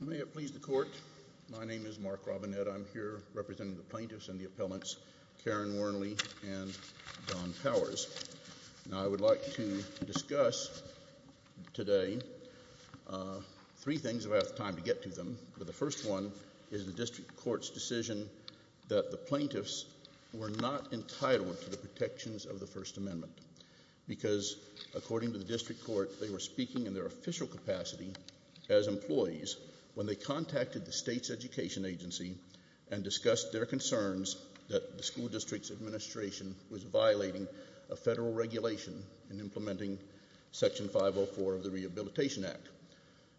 May it please the Court, my name is Mark Robinette. I'm here representing the plaintiffs and the appellants, Karen Wernley and Don Powers. Now I would like to discuss today three things if I have time to get to them, but the first one is the District Court's decision that the plaintiffs were not entitled to the protections of the First Amendment because according to the District Court they were speaking in their official capacity as employees when they contacted the state's education agency and discussed their concerns that the school district's administration was violating a federal regulation in implementing section 504 of the Rehabilitation Act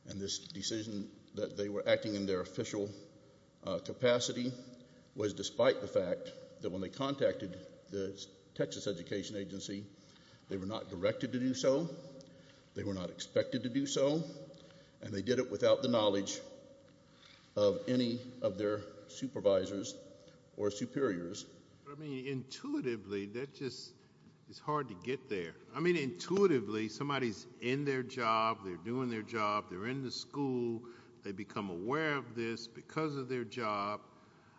and this decision that they were acting in their official capacity was despite the fact that when they were not expected to do so and they did it without the knowledge of any of their supervisors or superiors. I mean intuitively that just it's hard to get there. I mean intuitively somebody's in their job, they're doing their job, they're in the school, they become aware of this because of their job.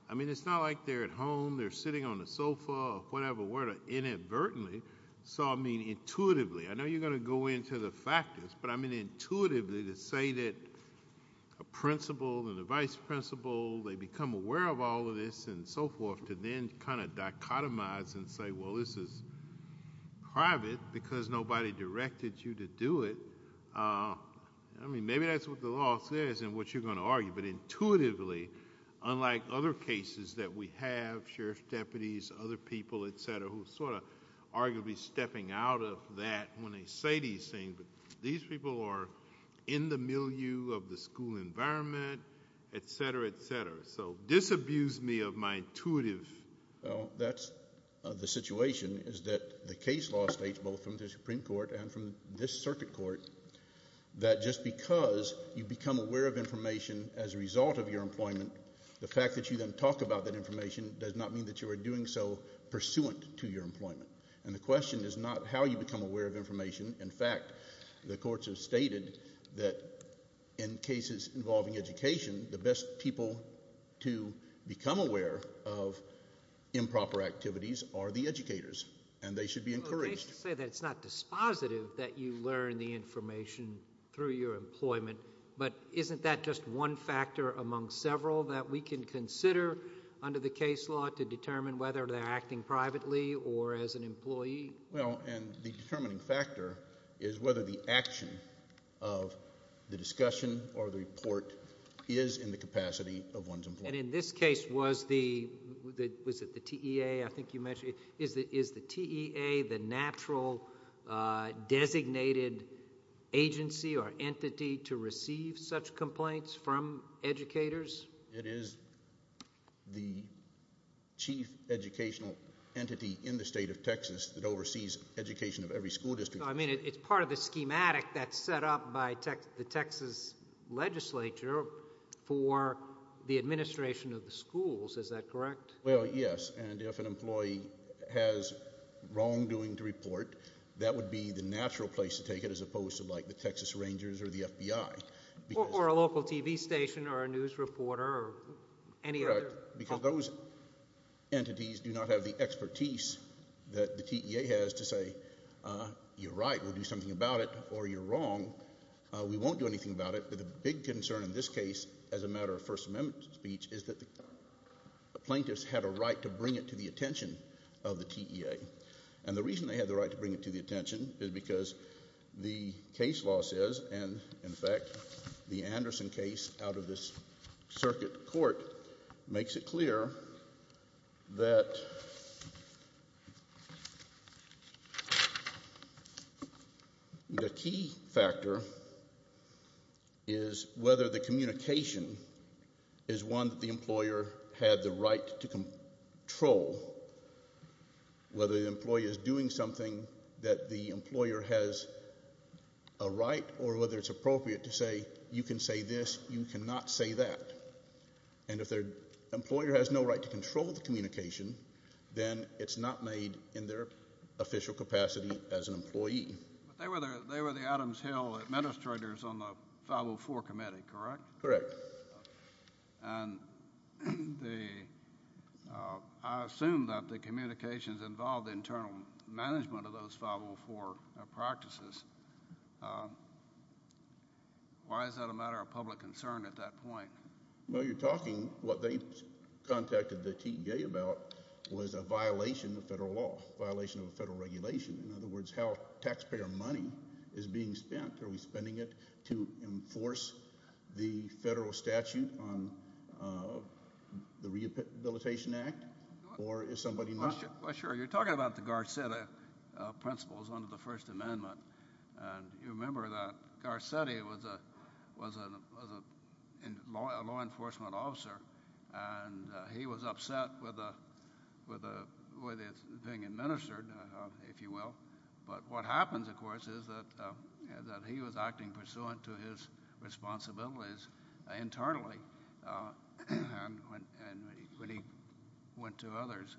I mean it's not like they're at home, they're sitting on the sofa or whatever, where to inadvertently. So I mean intuitively, I know you're going to go into the factors, but I mean intuitively to say that a principal and a vice-principal they become aware of all of this and so forth to then kind of dichotomize and say well this is private because nobody directed you to do it. I mean maybe that's what the law says and what you're going to argue, but intuitively unlike other cases that we have, sheriff's deputies, other people, etc., who sort of arguably stepping out of that when they say these things, but these people are in the milieu of the school environment, etc., etc. So disabuse me of my intuitive. That's the situation is that the case law states both from the Supreme Court and from this circuit court that just because you become aware of information as a result of your employment, the fact that you then talk about that information does not mean that you are doing so pursuant to your employment. And the question is not how you become aware of information. In fact, the courts have stated that in cases involving education, the best people to become aware of improper activities are the educators and they should be encouraged. It's not dispositive that you learn the information through your employment, but isn't that just one factor among several that we can consider under the case law to determine whether they're acting privately or as an employee? Well, and the determining factor is whether the action of the discussion or the report is in the capacity of one's employment. And in this case, was the, was it the TEA, I think you mentioned, is the TEA the natural designated agency or entity to receive such complaints from educators? It is the chief educational entity in the state of Texas that oversees education of every school district. I mean, it's part of the schematic that's set up by the Texas legislature for the administration of the schools. Is that correct? Well, yes. And if an employee has wrongdoing to report, that would be the natural place to take it as opposed to like the Texas Rangers or the FBI. Or a local TV station or a news reporter or any other. Because those entities do not have the expertise that the TEA has to say, you're right, we'll do something about it or you're wrong. We won't do anything about it. But the big concern in this case, as a matter of First Amendment speech, is that the plaintiffs had a right to bring it to the attention of the TEA. And the reason they had the right to bring it to the attention is because the case law says, and in fact the Anderson case out of this circuit court makes it clear, that the key factor is whether the communication is one that the employer had the right to control. Whether the employee is doing something that the employer has a right or whether it's appropriate to say, you can say this, you cannot say that. And if their employer has no right to control the communication, then it's not made in their official capacity as an employee. They were the Adams Hill administrators on the 504 committee, correct? Correct. And I assume that the communications involved internal management of those 504 practices. Why is that a matter of public concern at that point? Well, you're talking, what they contacted the TEA about was a violation of federal law, violation of a federal regulation. In other words, how taxpayer money is being spent? Are we spending it to enforce the federal statute on the Rehabilitation Act, or is somebody not sure? Well sure, you're talking about the Garcetti principles under the First Amendment. And you remember that Garcetti was a law enforcement officer, and he was upset with the way it's being administered, if you will. But what happens, of course, is that he was acting pursuant to his responsibilities internally when he went to others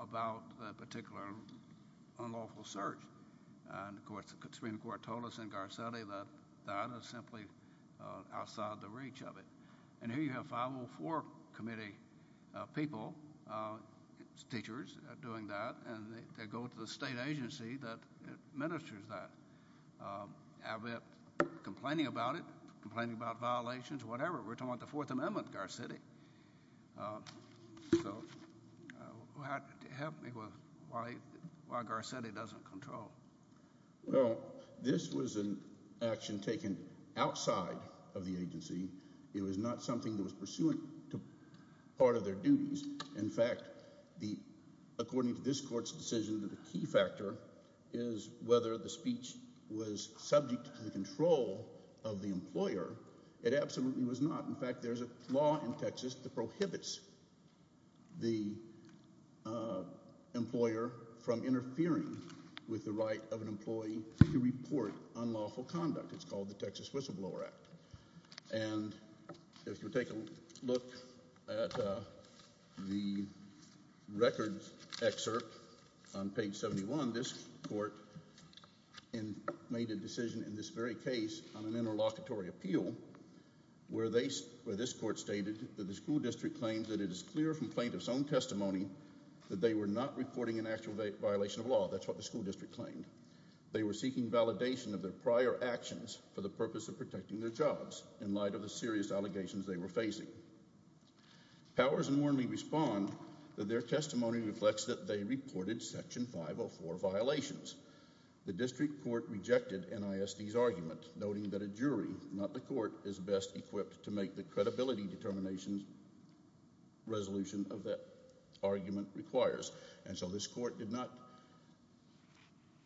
about that particular unlawful search. And of course, the Supreme Court told us in Garcetti that that is simply outside the reach of it. And here you have 504 committee people, teachers, doing that, and they go to the state agency that administers that. I've been complaining about it, complaining about violations, whatever. We're talking about the Fourth Amendment, Garcetti. So help me with why Garcetti doesn't control. Well, this was an action taken outside of the agency. It was not something that was pursuant to part of their duties. In fact, according to this court's decision, the key factor is whether the speech was subject to the control of the employer. It absolutely was not. In fact, there's a law in Texas that prohibits the employer from interfering with the right of an employee to report unlawful conduct. It's called the Texas Whistleblower Act. And if you take a look at the records excerpt on page 71, this court made a decision in this very case on interlocutory appeal where this court stated that the school district claims that it is clear from plaintiff's own testimony that they were not reporting an actual violation of law. That's what the school district claimed. They were seeking validation of their prior actions for the purpose of protecting their jobs in light of the serious allegations they were facing. Powers and Wormley respond that their testimony reflects that they reported Section 504 violations. The district court rejected NISD's argument, noting that a jury, not the court, is best equipped to make the credibility determination resolution of that argument requires. And so this court did not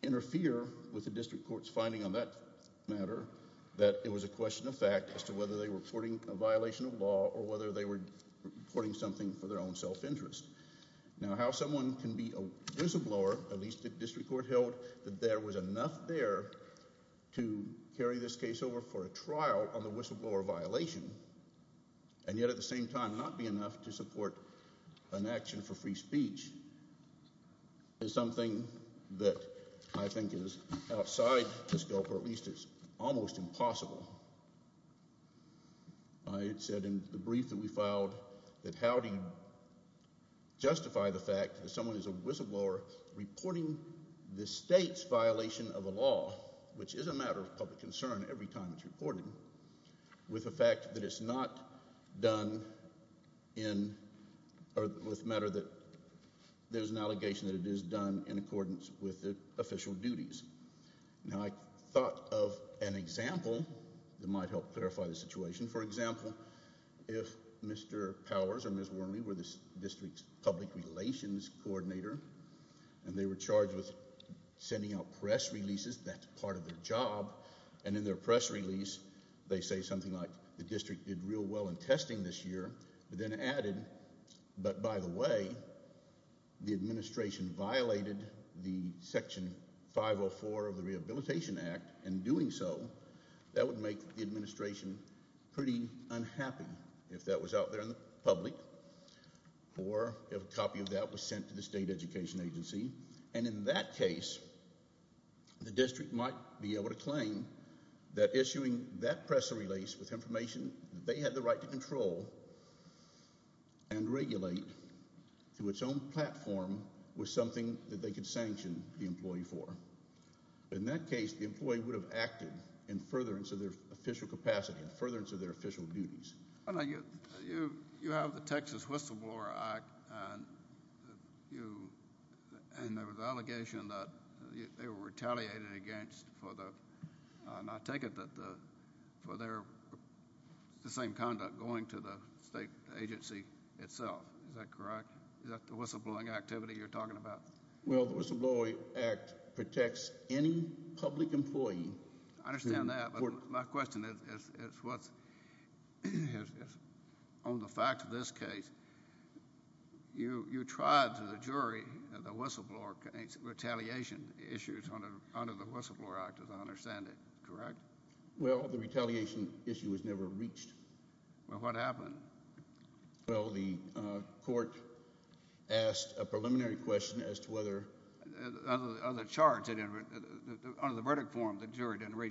interfere with the district court's finding on that matter, that it was a question of fact as to whether they were reporting a violation of law or whether they were reporting something for their own self-interest. Now how someone can be a whistleblower, at least the district court held, that there was enough there to carry this case over for a trial on the whistleblower violation and yet at the same time not be enough to support an action for free speech is something that I think is outside the scope or at least it's almost impossible. I had said in the brief that we filed that how do you justify the fact that someone is a whistleblower reporting the state's violation of a law, which is a matter of public concern every time it's reported, with the fact that it's not done in or with matter that there's an allegation that it is done in accordance with the official duties. Now I thought of an example that might help clarify the situation. For example, if Mr. Powers or Ms. Wormley were the district's public relations coordinator and they were charged with sending out press releases, that's part of their job, and in their press release they say something like the district did real well in testing this year, but then added, but by the way, the administration violated the section 504 of the Rehabilitation Act and doing so that would make the administration pretty unhappy if that was out there in the public or if a copy of that was sent to the state education agency, and in that case the district might be able to claim that issuing that press release with information they had the right to control and regulate to its own platform was something that they could sanction the employee for. In that case the employee would have acted in furtherance of their official capacity, furtherance of their official duties. You have the Texas Whistleblower Act, and there was an allegation that they were retaliated against for the, and I take it, that for their the same conduct going to the state agency itself, is that correct? Is that the whistleblowing activity you're talking about? Well the Whistleblower Act protects any public employee. I understand that, but my question is on the fact of this case. You tried to the jury the whistleblower retaliation issues under the Whistleblower Act as I understand it, correct? Well the retaliation issue was never reached. Well what happened? Well the court asked a jury to reach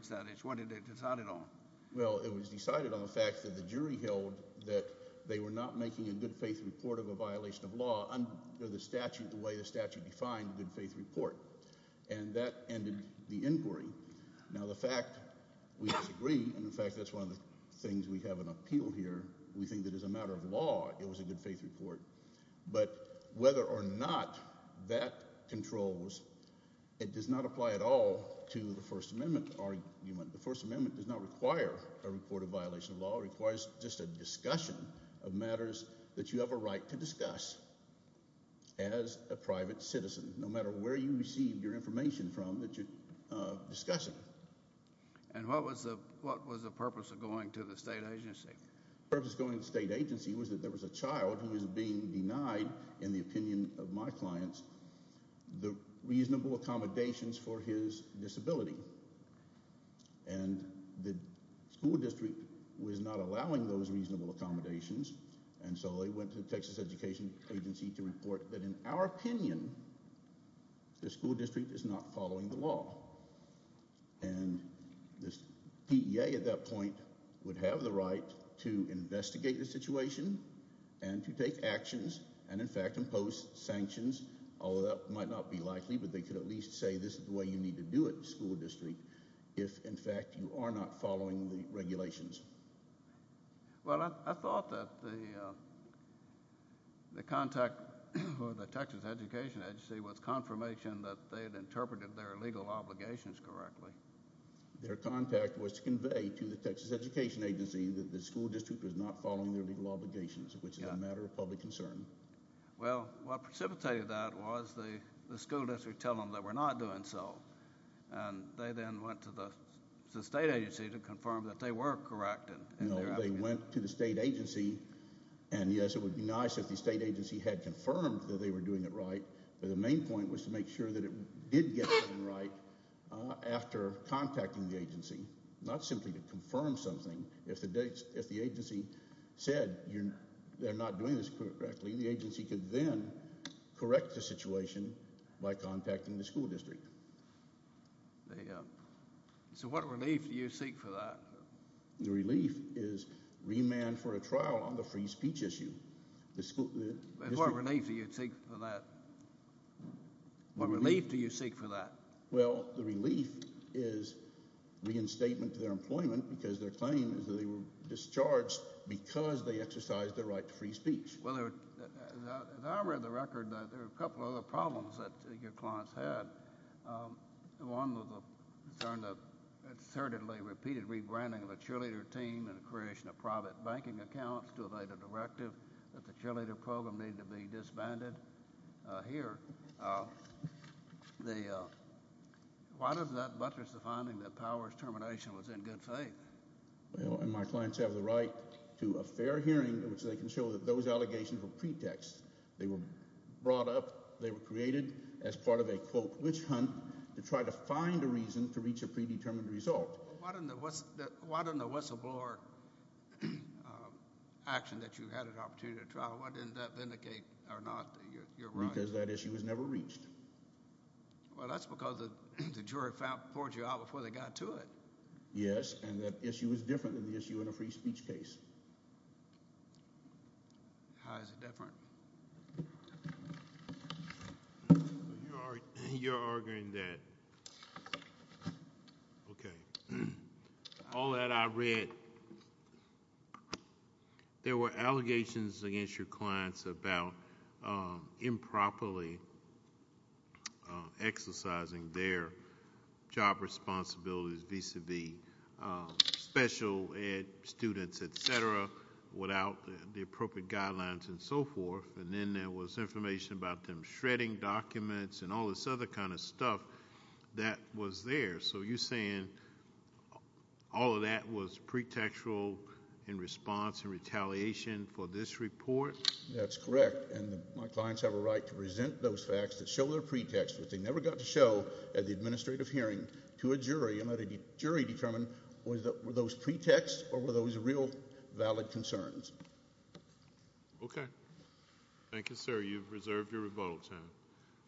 that issue. What did they decide it on? Well it was decided on the fact that the jury held that they were not making a good-faith report of a violation of law under the statute the way the statute defined a good-faith report, and that ended the inquiry. Now the fact we disagree, and in fact that's one of the things we have an appeal here, we think that as a matter of law it was a good-faith report, but whether or not that controls, it does not apply at all to the First Amendment argument. The First Amendment does not require a report of violation of law. It requires just a discussion of matters that you have a right to discuss as a private citizen, no matter where you receive your information from that you're discussing. And what was the purpose of going to the state agency? The purpose of going to the state agency was that there was a child who was being denied, in the opinion of my clients, the reasonable accommodations for his disability. And the school district was not allowing those reasonable accommodations, and so they went to Texas Education Agency to report that in our opinion, the school district is not following the law. And this PEA at that point would have the right to investigate the situation, and to take actions, and in fact impose sanctions, although that might not be likely, but they could at least say this is the way you need to do it, school district, if in fact you are not following the regulations. Well, I thought that the contact with the Texas Education Agency was confirmation that they had interpreted their obligations correctly. Their contact was to convey to the Texas Education Agency that the school district was not following their legal obligations, which is a matter of public concern. Well, what precipitated that was the school district telling them that we're not doing so, and they then went to the state agency to confirm that they were correct. No, they went to the state agency, and yes, it would be nice if the state agency had confirmed that they were doing it right, but the main point was to make sure that it did get done right after contacting the agency, not simply to confirm something. If the agency said they're not doing this correctly, the agency could then correct the situation by contacting the school district. So what relief do you seek for that? The relief is remand for a trial on the free speech issue. But what relief do you seek for that? What relief do you seek for that? Well, the relief is reinstatement to their employment, because their claim is that they were discharged because they exercised their right to free speech. Well, as I read the record, there were a couple other problems that your clients had. One was a concern that assertedly repeated rebranding of the cheerleader team and the creation of private banking accounts to evade a directive that the cheerleader program needed to be disbanded. Here, why does that buttress the finding that Powers' termination was in good faith? Well, and my clients have the right to a fair hearing in which they can show that those allegations were pretext. They were brought up. They were created as part of a, quote, witch hunt to try to find a reason to reach a predetermined result. Why didn't the whistleblower action that you had an opportunity to trial, why didn't that vindicate or not your right? Because that issue was never reached. Well, that's because the jury poured you out before they got to it. Yes, and that issue is different than the issue in a free speech case. How is it different? You're arguing that, okay, all that I read, there were allegations against your clients about improperly exercising their job responsibilities vis-a-vis special ed students, et cetera, without the appropriate guidelines and so forth, and then there was information about them shredding documents and all this other kind of stuff that was there. So you're saying all of that was pretextual in response and retaliation for this report? That's correct, and my clients have a right to present those facts that show their to a jury and let a jury determine were those pretexts or were those real valid concerns. Okay, thank you, sir. You've reserved your rebuttal time.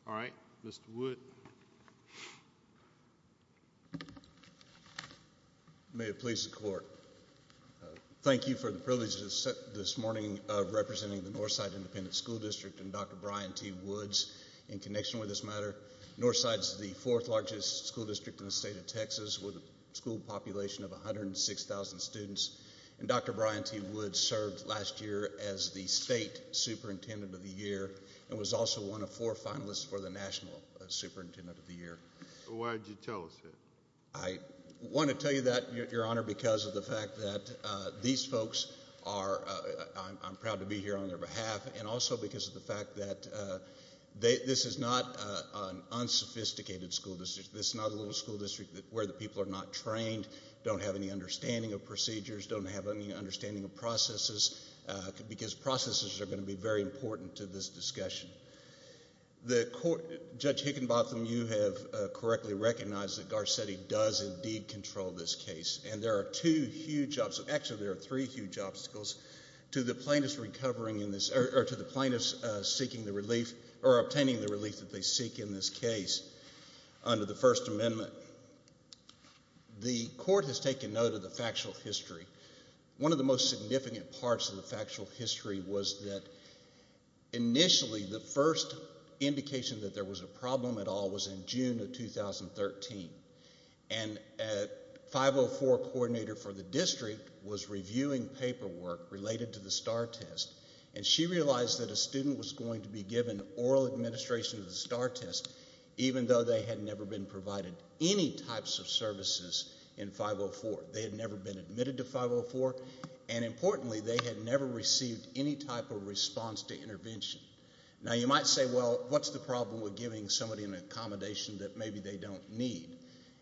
All right, Mr. Wood. May it please the court. Thank you for the privilege this morning of representing the Northside Independent School District and Dr. Brian T. Woods in connection with this matter. Northside's the fourth largest school district in the state of Texas with a school population of 106,000 students, and Dr. Brian T. Woods served last year as the state superintendent of the year and was also one of four finalists for the national superintendent of the year. Why did you tell us that? I want to tell you that, Your Honor, because of the fact that these folks are—I'm proud to be here on their behalf and also because of the fact that this is not an unsophisticated school district. This is not a little school district where the people are not trained, don't have any understanding of procedures, don't have any understanding of processes, because processes are going to be very important to this discussion. Judge Hickenbotham, you have correctly recognized that Garcetti does indeed control this case, and there are two huge obstacles—actually, there are three huge obstacles to the plaintiffs recovering in this—or to the plaintiffs seeking the relief or obtaining the relief that they seek in this case under the First Amendment. The court has taken note of the factual history. One of the most significant parts of the factual history was that initially the first indication that there was a problem at all was in June of 2013, and a 504 coordinator for the district was reviewing paperwork related to the STAAR test, and she realized that a student was going to be given oral administration of the STAAR test even though they had never been provided any types of services in 504. They had never been admitted to 504, and importantly, they had never received any type of response to intervention. Now, you might say, well, what's the problem with giving somebody an accommodation that maybe they don't need?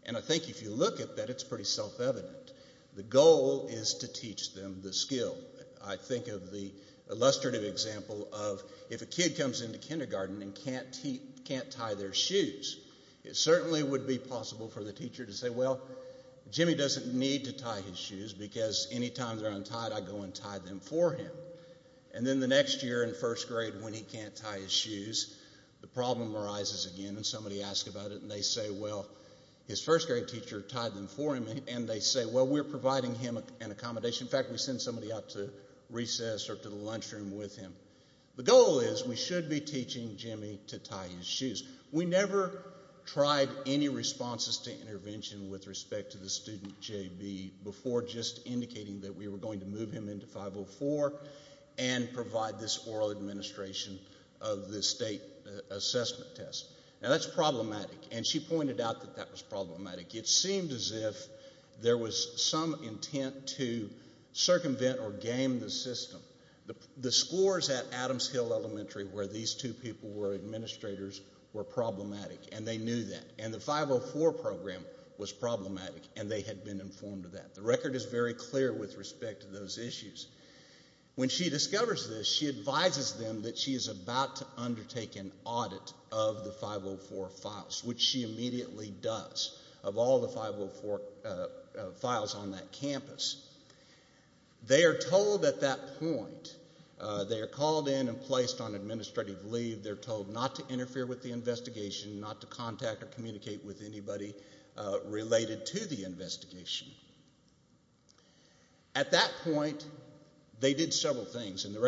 And I think if you look at that, it's pretty self-evident. The goal is to teach them the skill. I think of the illustrative example of if a kid comes into kindergarten and can't tie their shoes, it certainly would be possible for the teacher to say, well, Jimmy doesn't need to tie his shoes because anytime they're untied, I go and tie them for him. And then the next year in first grade when he can't tie his shoes, the problem arises again, and somebody asks about it, and they say, well, his first grade teacher tied them for him, and they say, well, we're providing him an accommodation. In fact, we send somebody out to recess or to the lunchroom with him. The goal is we should be teaching Jimmy to tie his shoes. We never tried any responses to intervention with respect to the student, JB, before just indicating that we were going to move him into 504 and provide this oral administration of the assessment test. Now, that's problematic, and she pointed out that that was problematic. It seemed as if there was some intent to circumvent or game the system. The scores at Adams Hill Elementary where these two people were administrators were problematic, and they knew that. And the 504 program was problematic, and they had been informed of that. The record is very clear with respect to those issues. When she discovers this, she advises them that she is about to undertake an audit of the 504 files, which she immediately does, of all the 504 files on that campus. They are told at that point, they are called in and placed on administrative leave. They're told not to interfere with the investigation, not to contact or communicate with anybody related to the investigation. At that point, they did several things, and the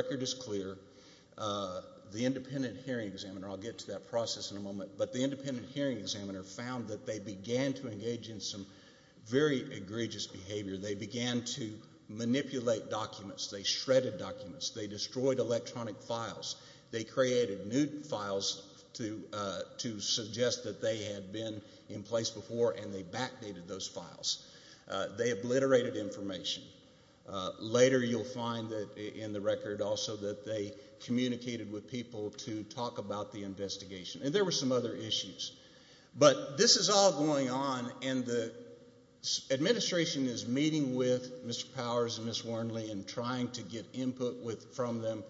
independent hearing examiner, I'll get to that process in a moment, but the independent hearing examiner found that they began to engage in some very egregious behavior. They began to manipulate documents. They shredded documents. They destroyed electronic files. They created new files to suggest that they had been in place before, and they backdated those files. They obliterated information. Later, you'll find that in the record also that they communicated with people to talk about the investigation, and there were some other issues, but this is all going on, and the administration is meeting with Mr. Powers and Ms. Warnley and trying to get input from them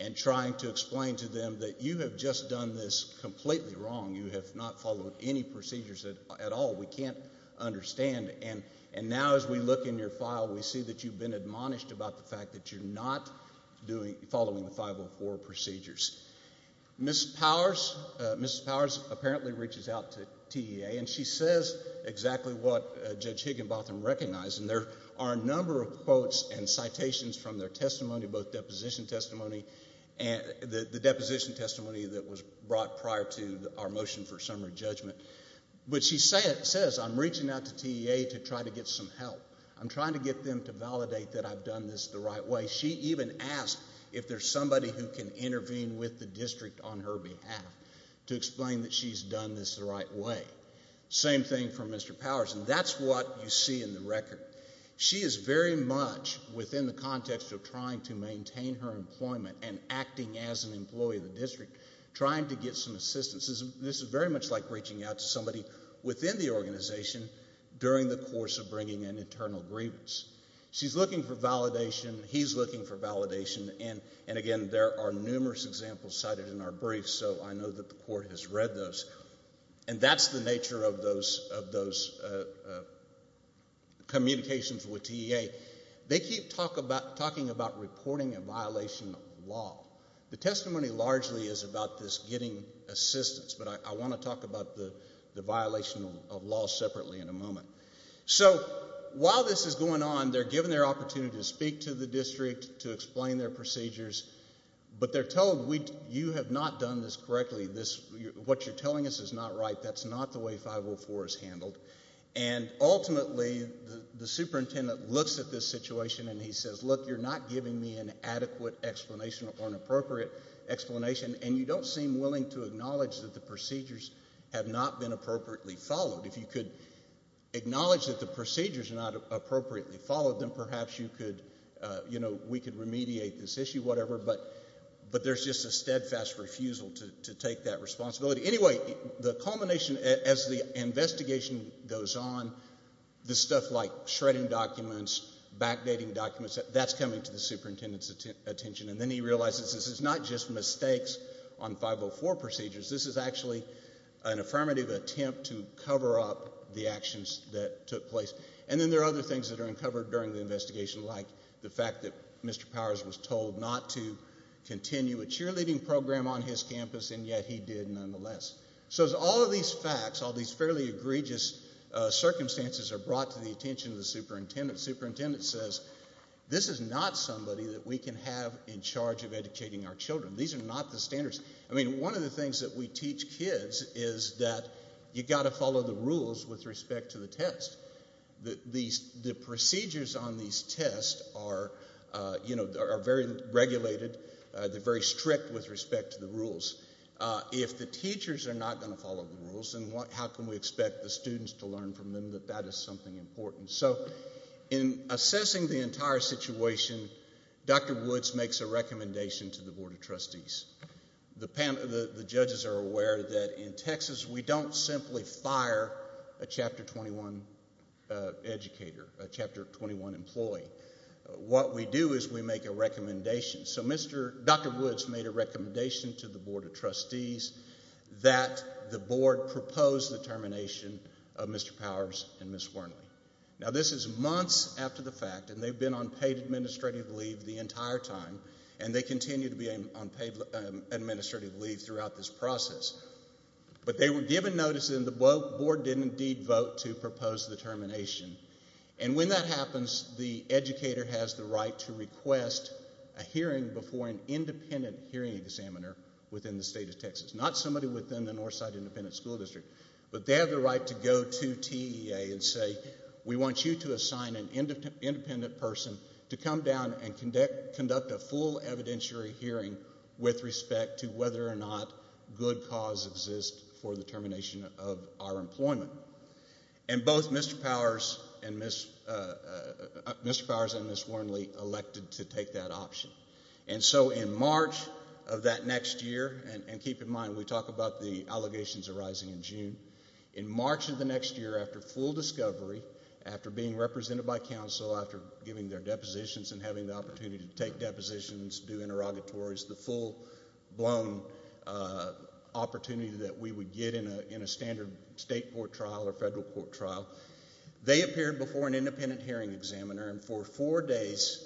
and trying to explain to them that you have just done this completely wrong. You have not followed any procedures at all. We can't understand, and now as we look in your file, we see that you've been admonished about the fact that you're not following the 504 procedures. Ms. Powers apparently reaches out to TEA, and she says exactly what Judge Higginbotham recognized, and there are a number of quotes and citations from their testimony, both deposition testimony and the deposition testimony that was brought prior to our motion for summary judgment, but she says, I'm reaching out to TEA to try to get some help. I'm trying to get them to validate that I've done this the right way. She even asked if there's somebody who can intervene with the district on her behalf to explain that she's done this the right way. Same thing for Mr. Powers, and that's what you see in the record. She is very much within the context of trying to maintain her employment and acting as an employee of the district, trying to get some assistance. This is very much like reaching out to somebody within the organization during the course of bringing an internal grievance. She's looking for validation. He's looking for validation, and again, there are numerous examples cited in our brief, so I know that the court has read those, and that's the nature of communications with TEA. They keep talking about reporting a violation of law. The testimony largely is about this getting assistance, but I want to talk about the violation of law separately in a moment. So while this is going on, they're given their opportunity to speak to the district to explain their procedures, but they're told, you have not done this correctly. What you're telling us is not right. That's not the way 504 is handled, and ultimately, the superintendent looks at this situation and he says, look, you're not giving me an adequate explanation or an appropriate explanation, and you don't seem willing to acknowledge that the procedures have not been appropriately followed. If you could acknowledge that the procedures are not appropriately followed, then perhaps we could remediate this issue, whatever, but there's just a steadfast refusal to take that responsibility. Anyway, the culmination as the investigation goes on, the stuff like shredding documents, backdating documents, that's coming to the surface, mistakes on 504 procedures. This is actually an affirmative attempt to cover up the actions that took place, and then there are other things that are uncovered during the investigation, like the fact that Mr. Powers was told not to continue a cheerleading program on his campus, and yet he did nonetheless. So as all of these facts, all these fairly egregious circumstances are brought to the attention of the superintendent, the superintendent says, this is not somebody that we can have in these are not the standards. I mean, one of the things that we teach kids is that you got to follow the rules with respect to the test. The procedures on these tests are, you know, are very regulated, they're very strict with respect to the rules. If the teachers are not going to follow the rules, then how can we expect the students to learn from them that that is something important? So in assessing the entire situation, Dr. Woods makes a recommendation to the Board of Trustees. The panel, the judges are aware that in Texas we don't simply fire a Chapter 21 educator, a Chapter 21 employee. What we do is we make a recommendation. So Mr., Dr. Woods made a recommendation to the Board of Trustees that the board propose the termination of Mr. Powers and this is months after the fact and they've been on paid administrative leave the entire time and they continue to be on paid administrative leave throughout this process. But they were given notice and the board did indeed vote to propose the termination. And when that happens, the educator has the right to request a hearing before an independent hearing examiner within the state of Texas, not somebody within the Northside Independent School District, but they have the right to go to TEA and say we want you to assign an independent person to come down and conduct a full evidentiary hearing with respect to whether or not good cause exists for the termination of our employment. And both Mr. Powers and Ms. Warnley elected to take that option. And so in March of that next year, and keep in mind we talk about the allegations arising in June, in March of the next year after full discovery, after being represented by council, after giving their depositions and having the opportunity to take depositions, do interrogatories, the full-blown opportunity that we would get in a standard state court trial or federal court trial, they appeared before an independent hearing examiner and for four days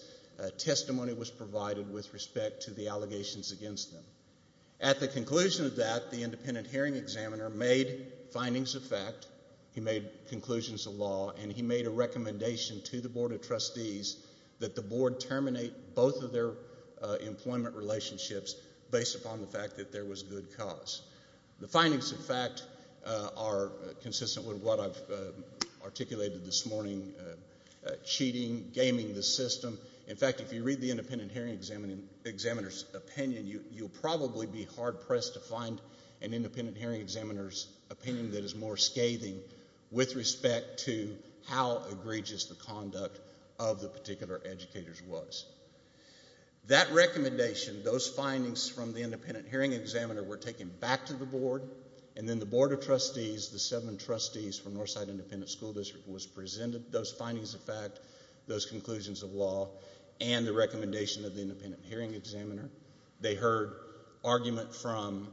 testimony was provided with respect to the allegations against them. At the conclusion of that, the independent hearing examiner made findings of fact, he made conclusions of law, and he made a recommendation to the board of trustees that the board terminate both of their employment relationships based upon the fact that there was good cause. The findings of fact are consistent with what I've articulated this morning, cheating, gaming the system. In fact, if you read the independent hearing examiner's opinion, you'll probably be hard pressed to find an independent hearing examiner's opinion that is more scathing with respect to how egregious the conduct of the particular educators was. That recommendation, those findings from the independent hearing examiner were taken back to the board, and then the board of trustees, the seven trustees from Northside Independent School District was presented those findings of fact, those conclusions of law, and the recommendation of the independent hearing examiner. They heard argument from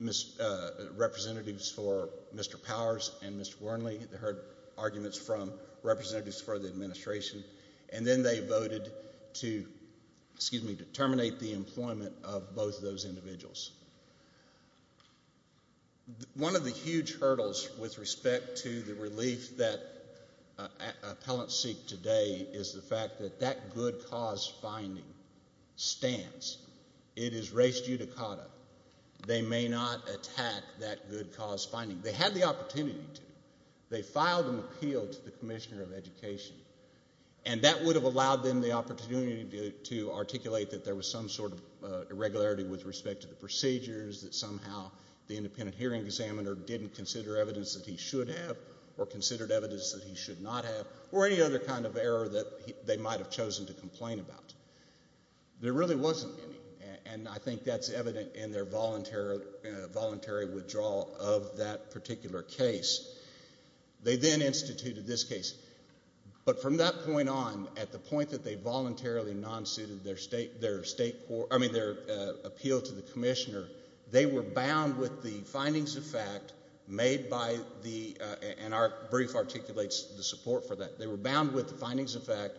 representatives for Mr. Powers and Mr. Wernley. They heard arguments from representatives for the administration, and then they voted to, excuse me, terminate the employment of both individuals. One of the huge hurdles with respect to the relief that appellants seek today is the fact that that good cause finding stands. It is res judicata. They may not attack that good cause finding. They had the opportunity to. They filed an appeal to the commissioner of education, and that would have allowed them the opportunity to articulate that there was some sort of irregularity with respect to the procedures, that somehow the independent hearing examiner didn't consider evidence that he should have, or considered evidence that he should not have, or any other kind of error that they might have chosen to complain about. There really wasn't any, and I think that's evident in their voluntary withdrawal of that particular case. They then instituted this case, but from that point on, at the point that they voluntarily non-suited their state, their appeal to the commissioner, they were bound with the findings of fact made by the, and our brief articulates the support for that, they were bound with the findings of fact,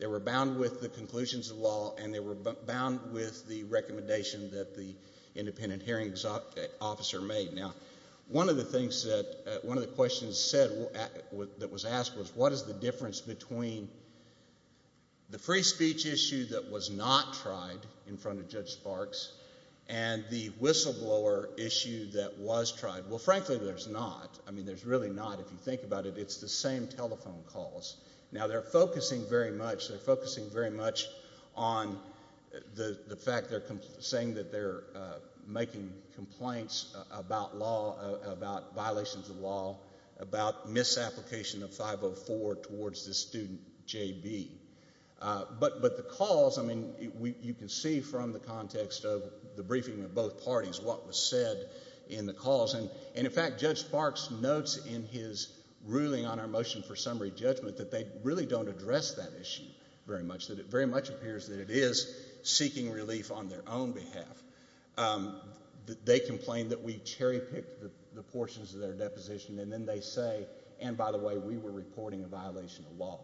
they were bound with the conclusions of law, and they were bound with the recommendation that the independent hearing officer made. Now, one of the things that, one of the questions said, that was asked was, what is the difference between the free speech issue that was not tried in front of Judge Sparks, and the whistleblower issue that was tried? Well, frankly, there's not. I mean, there's really not. If you think about it, it's the same telephone calls. Now, they're focusing very much, they're focusing very much on the fact they're saying that they're making complaints about law, about violations of law, about misapplication of 504 towards this student, JB. But the calls, I mean, you can see from the context of the briefing of both parties what was said in the calls, and in fact, Judge Sparks notes in his ruling on our motion for summary judgment that they really don't address that issue very much, that it very much appears that it is seeking relief on their own behalf. They complained that we cherry-picked the portions of their deposition, and then they say, and by the way, we were reporting a violation of law.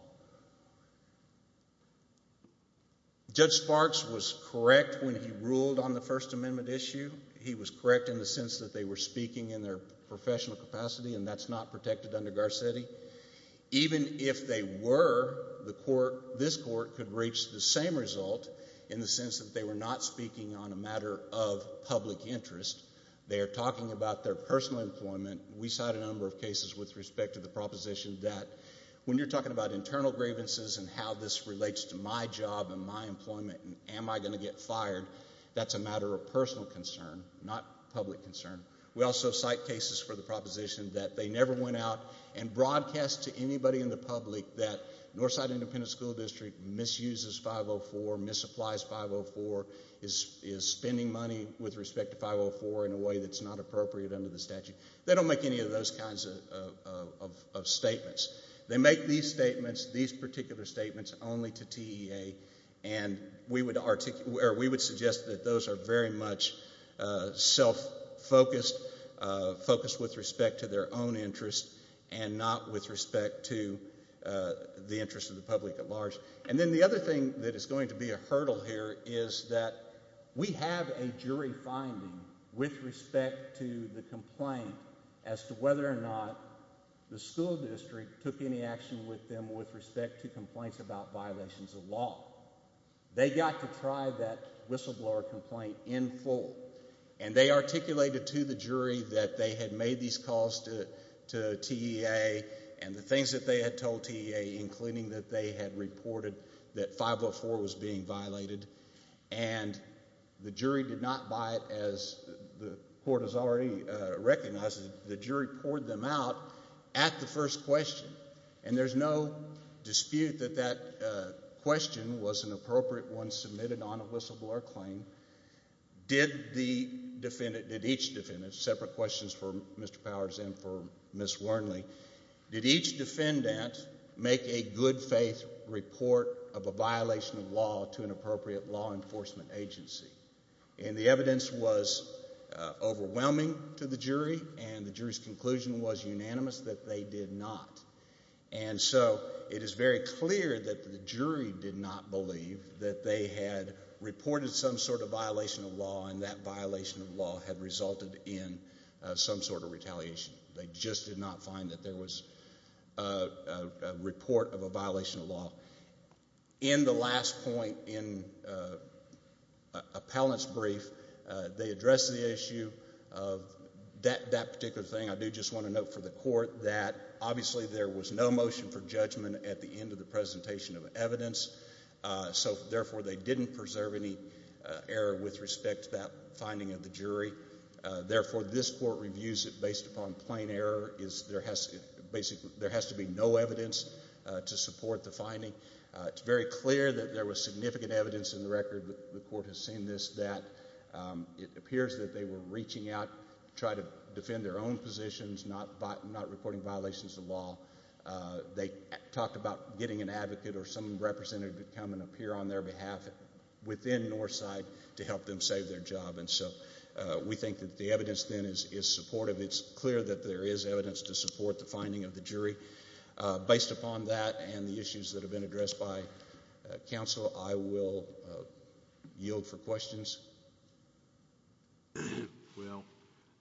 Judge Sparks was correct when he ruled on the First Amendment issue. He was correct in the sense that they were speaking in their professional capacity, and that's not protected under Garcetti. Even if they were, the court, this court could reach the same result in the sense that they were not speaking on a matter of public interest. They are talking about their personal employment. We cite a number of cases with respect to the proposition that when you're talking about internal grievances and how this relates to my job and my employment and am I going to get fired, that's a matter of personal concern, not public concern. We also cite cases for the proposition that they never went out and broadcast to anybody in the public that Northside Independent School District misuses 504, misapplies 504, is spending money with respect to 504 in a way that's not appropriate under the statute. They don't make any of those kinds of statements. They make these statements, these particular statements, only to TEA, and we would suggest that those are very much self-focused, focused with respect to their own interest and not with respect to the interest of the public at large. And then the other thing that is going to be a hurdle here is that we have a jury finding with respect to the complaint as to whether or not the school district took any action with them with respect to complaints about violations of law. They got to try that whistleblower complaint in full and they articulated to the jury that they had made these calls to TEA and the things that they had told TEA including that they had reported that 504 was being violated and the jury did not buy it as the court has already recognized. The jury poured them out at the first question and there's no dispute that that question was an appropriate one submitted on whistleblower claim. Did the defendant, did each defendant, separate questions for Mr. Powers and for Ms. Wernley, did each defendant make a good faith report of a violation of law to an appropriate law enforcement agency? And the evidence was overwhelming to the jury and the jury's conclusion was unanimous that they did not. And so it is very clear that the jury did not believe that they had reported some sort of violation of law and that violation of law had resulted in some sort of retaliation. They just did not find that there was a report of a violation of law. In the last point in appellant's brief, they addressed the issue of that particular thing. I do just want to note for the court that obviously there was no motion for judgment at the end of the presentation of error with respect to that finding of the jury. Therefore, this court reviews it based upon plain error. There has to be no evidence to support the finding. It's very clear that there was significant evidence in the record, the court has seen this, that it appears that they were reaching out to try to defend their own positions, not reporting violations of law. They talked about getting an advocate or some representative to come and appear on their behalf within Northside to help them save their job. And so we think that the evidence then is supportive. It's clear that there is evidence to support the finding of the jury. Based upon that and the issues that have been addressed by counsel, I will yield for questions. Well,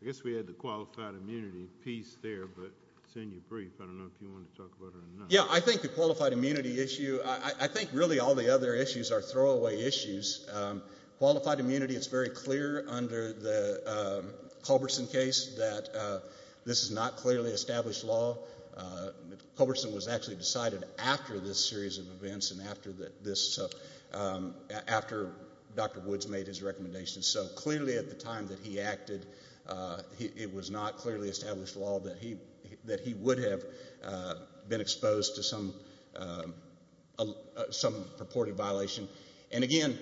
I guess we had the qualified immunity piece there, but it's in your brief. I don't know if you want to talk about it or not. Yeah, I think the qualified immunity issue, I think really all the other issues are throwaway issues. Qualified immunity, it's very clear under the Culberson case that this is not clearly established law. Culberson was actually decided after this series of events and after Dr. Woods made his recommendation. So clearly at the time that he acted, it was not clearly established law that he would have been exposed to some purported violation. And again,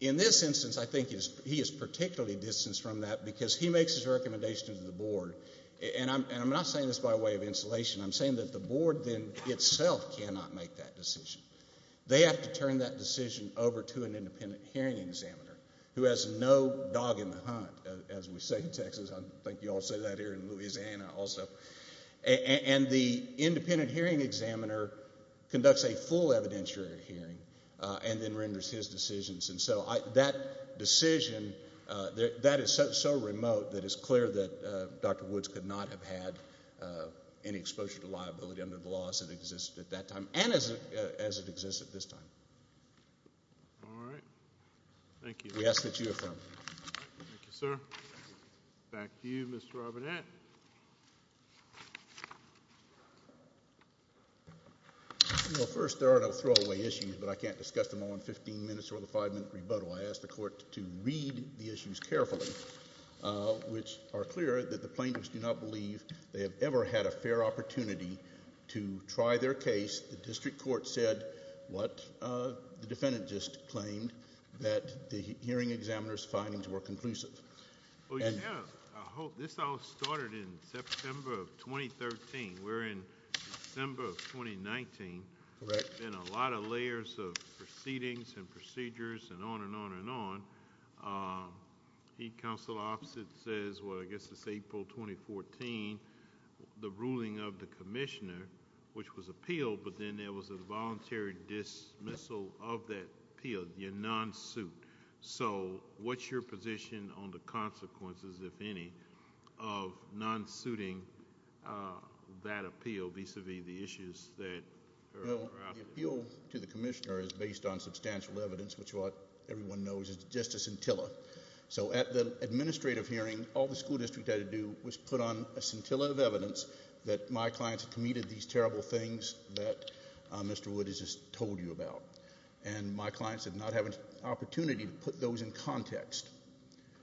in this instance, I think he is particularly distanced from that because he makes his recommendation to the board. And I'm not saying this by way of insulation. I'm saying that the hearing examiner, who has no dog in the hunt, as we say in Texas. I think you all say that here in Louisiana also. And the independent hearing examiner conducts a full evidentiary hearing and then renders his decisions. And so that decision, that is so remote that it's clear that Dr. Woods could not have had any exposure to liability under the law as it existed at that time. All right. Thank you. We ask that you affirm. Thank you, sir. Back to you, Mr. Robinette. You know, first there are no throwaway issues, but I can't discuss them all in 15 minutes or the five-minute rebuttal. I asked the court to read the issues carefully, which are clear that the plaintiffs do not believe they have ever had a fair opportunity to try their case. The district court said what the defendant just claimed, that the hearing examiner's findings were conclusive. Well, you have. I hope. This all started in September of 2013. We're in December of 2019. Correct. Been a lot of layers of proceedings and procedures and on and on and on. He, counsel opposite, says, well, I guess it's April 2014, the ruling of the commissioner, which was voluntary dismissal of that appeal, the non-suit. So what's your position on the consequences, if any, of non-suiting that appeal vis-a-vis the issues that are out there? The appeal to the commissioner is based on substantial evidence, which what everyone knows is just a scintilla. So at the administrative hearing, all the school district had to do was put on a scintilla of evidence that my clients committed these terrible things that Mr. Wood has just told you about. And my clients did not have an opportunity to put those in context,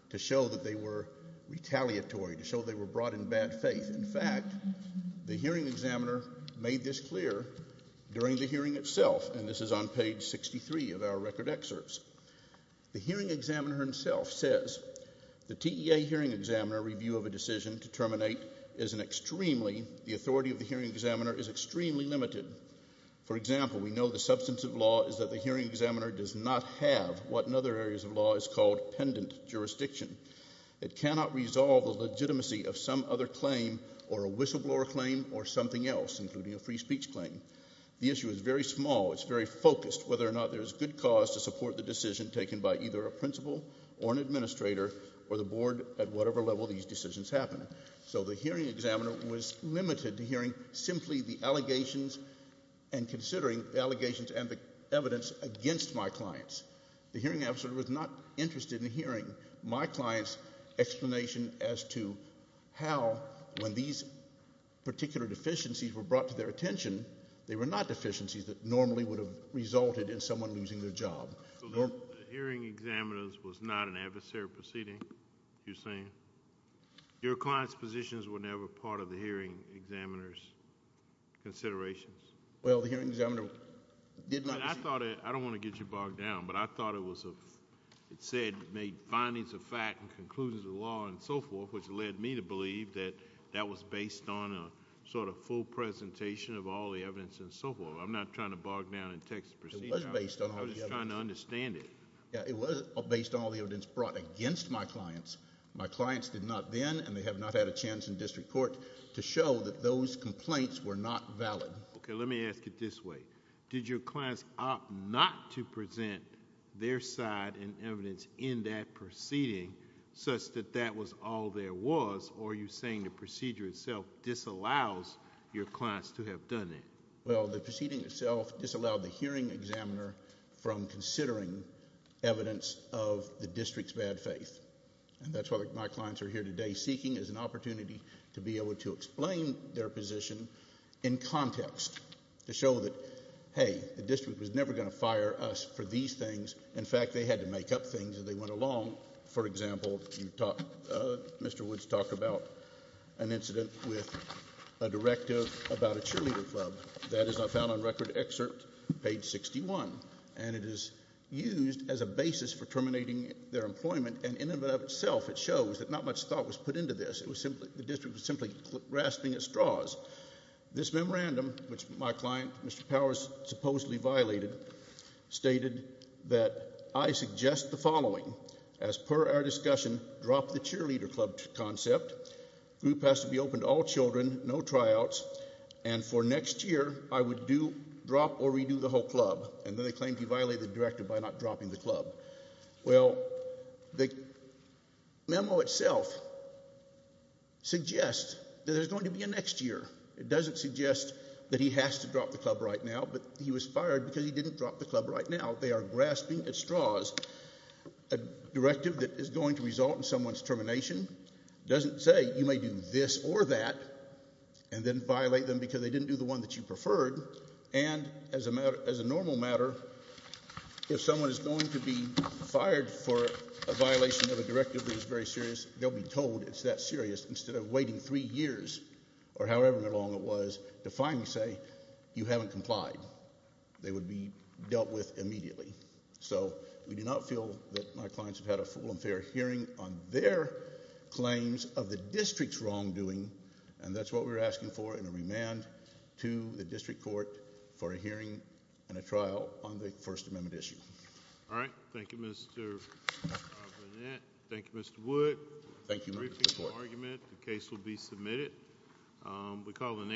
to show that they were retaliatory, to show they were brought in bad faith. In fact, the hearing examiner made this clear during the hearing itself, and this is on page 63 of our record excerpts. The hearing examiner himself says, the TEA hearing examiner review of a decision to terminate is an extremely, the authority of the hearing examiner is extremely limited. For example, we know the substance of law is that the hearing examiner does not have what in other areas of law is called pendant jurisdiction. It cannot resolve the legitimacy of some other claim or a whistleblower claim or something else, including a free speech claim. The issue is very small. It's very focused, whether or not there's good cause to support the decision taken by either a principal or an administrator or the board at whatever level these decisions happen. So the hearing examiner was limited to hearing simply the allegations and considering the allegations and the evidence against my clients. The hearing officer was not interested in hearing my client's explanation as to how, when these particular deficiencies were brought to their attention, they were not deficiencies that normally would have a job. The hearing examiner was not an adversary proceeding, you're saying? Your client's positions were never part of the hearing examiner's considerations? Well, the hearing examiner did not. I thought it, I don't want to get you bogged down, but I thought it was a, it said, made findings of fact and conclusions of law and so forth, which led me to believe that that was based on a sort of full presentation of all the evidence and so forth. I'm not trying to bog down and text the proceedings. It was based on all the evidence. I was just trying to understand it. Yeah, it was based on all the evidence brought against my clients. My clients did not then, and they have not had a chance in district court, to show that those complaints were not valid. Okay, let me ask it this way. Did your clients opt not to present their side and evidence in that proceeding such that that was all there was, or are you saying the procedure itself disallows your clients to have done it? Well, the proceeding itself disallowed the hearing examiner from considering evidence of the district's bad faith, and that's what my clients are here today seeking is an opportunity to be able to explain their position in context to show that, hey, the district was never going to fire us for these things. In fact, they had to an incident with a directive about a cheerleader club that is not found on record excerpt page 61, and it is used as a basis for terminating their employment, and in and of itself, it shows that not much thought was put into this. It was simply, the district was simply grasping at straws. This memorandum, which my client, Mr. Powers, supposedly violated, stated that I suggest the past to be open to all children, no tryouts, and for next year, I would drop or redo the whole club, and then they claimed he violated the directive by not dropping the club. Well, the memo itself suggests that there's going to be a next year. It doesn't suggest that he has to drop the club right now, but he was fired because he didn't drop the club right now. They are grasping at straws. A directive that is going to result in someone's termination doesn't say you may do this or that and then violate them because they didn't do the one that you preferred, and as a matter, as a normal matter, if someone is going to be fired for a violation of a directive that is very serious, they'll be told it's that serious instead of waiting three years or however long it was to say you haven't complied. They would be dealt with immediately, so we do not feel that my clients have had a full and fair hearing on their claims of the district's wrongdoing, and that's what we're asking for in a remand to the district court for a hearing and a trial on the First Amendment issue. All right. Thank you, Mr. Barnett. Thank you, Mr. Wood. Thank you. The case will be submitted.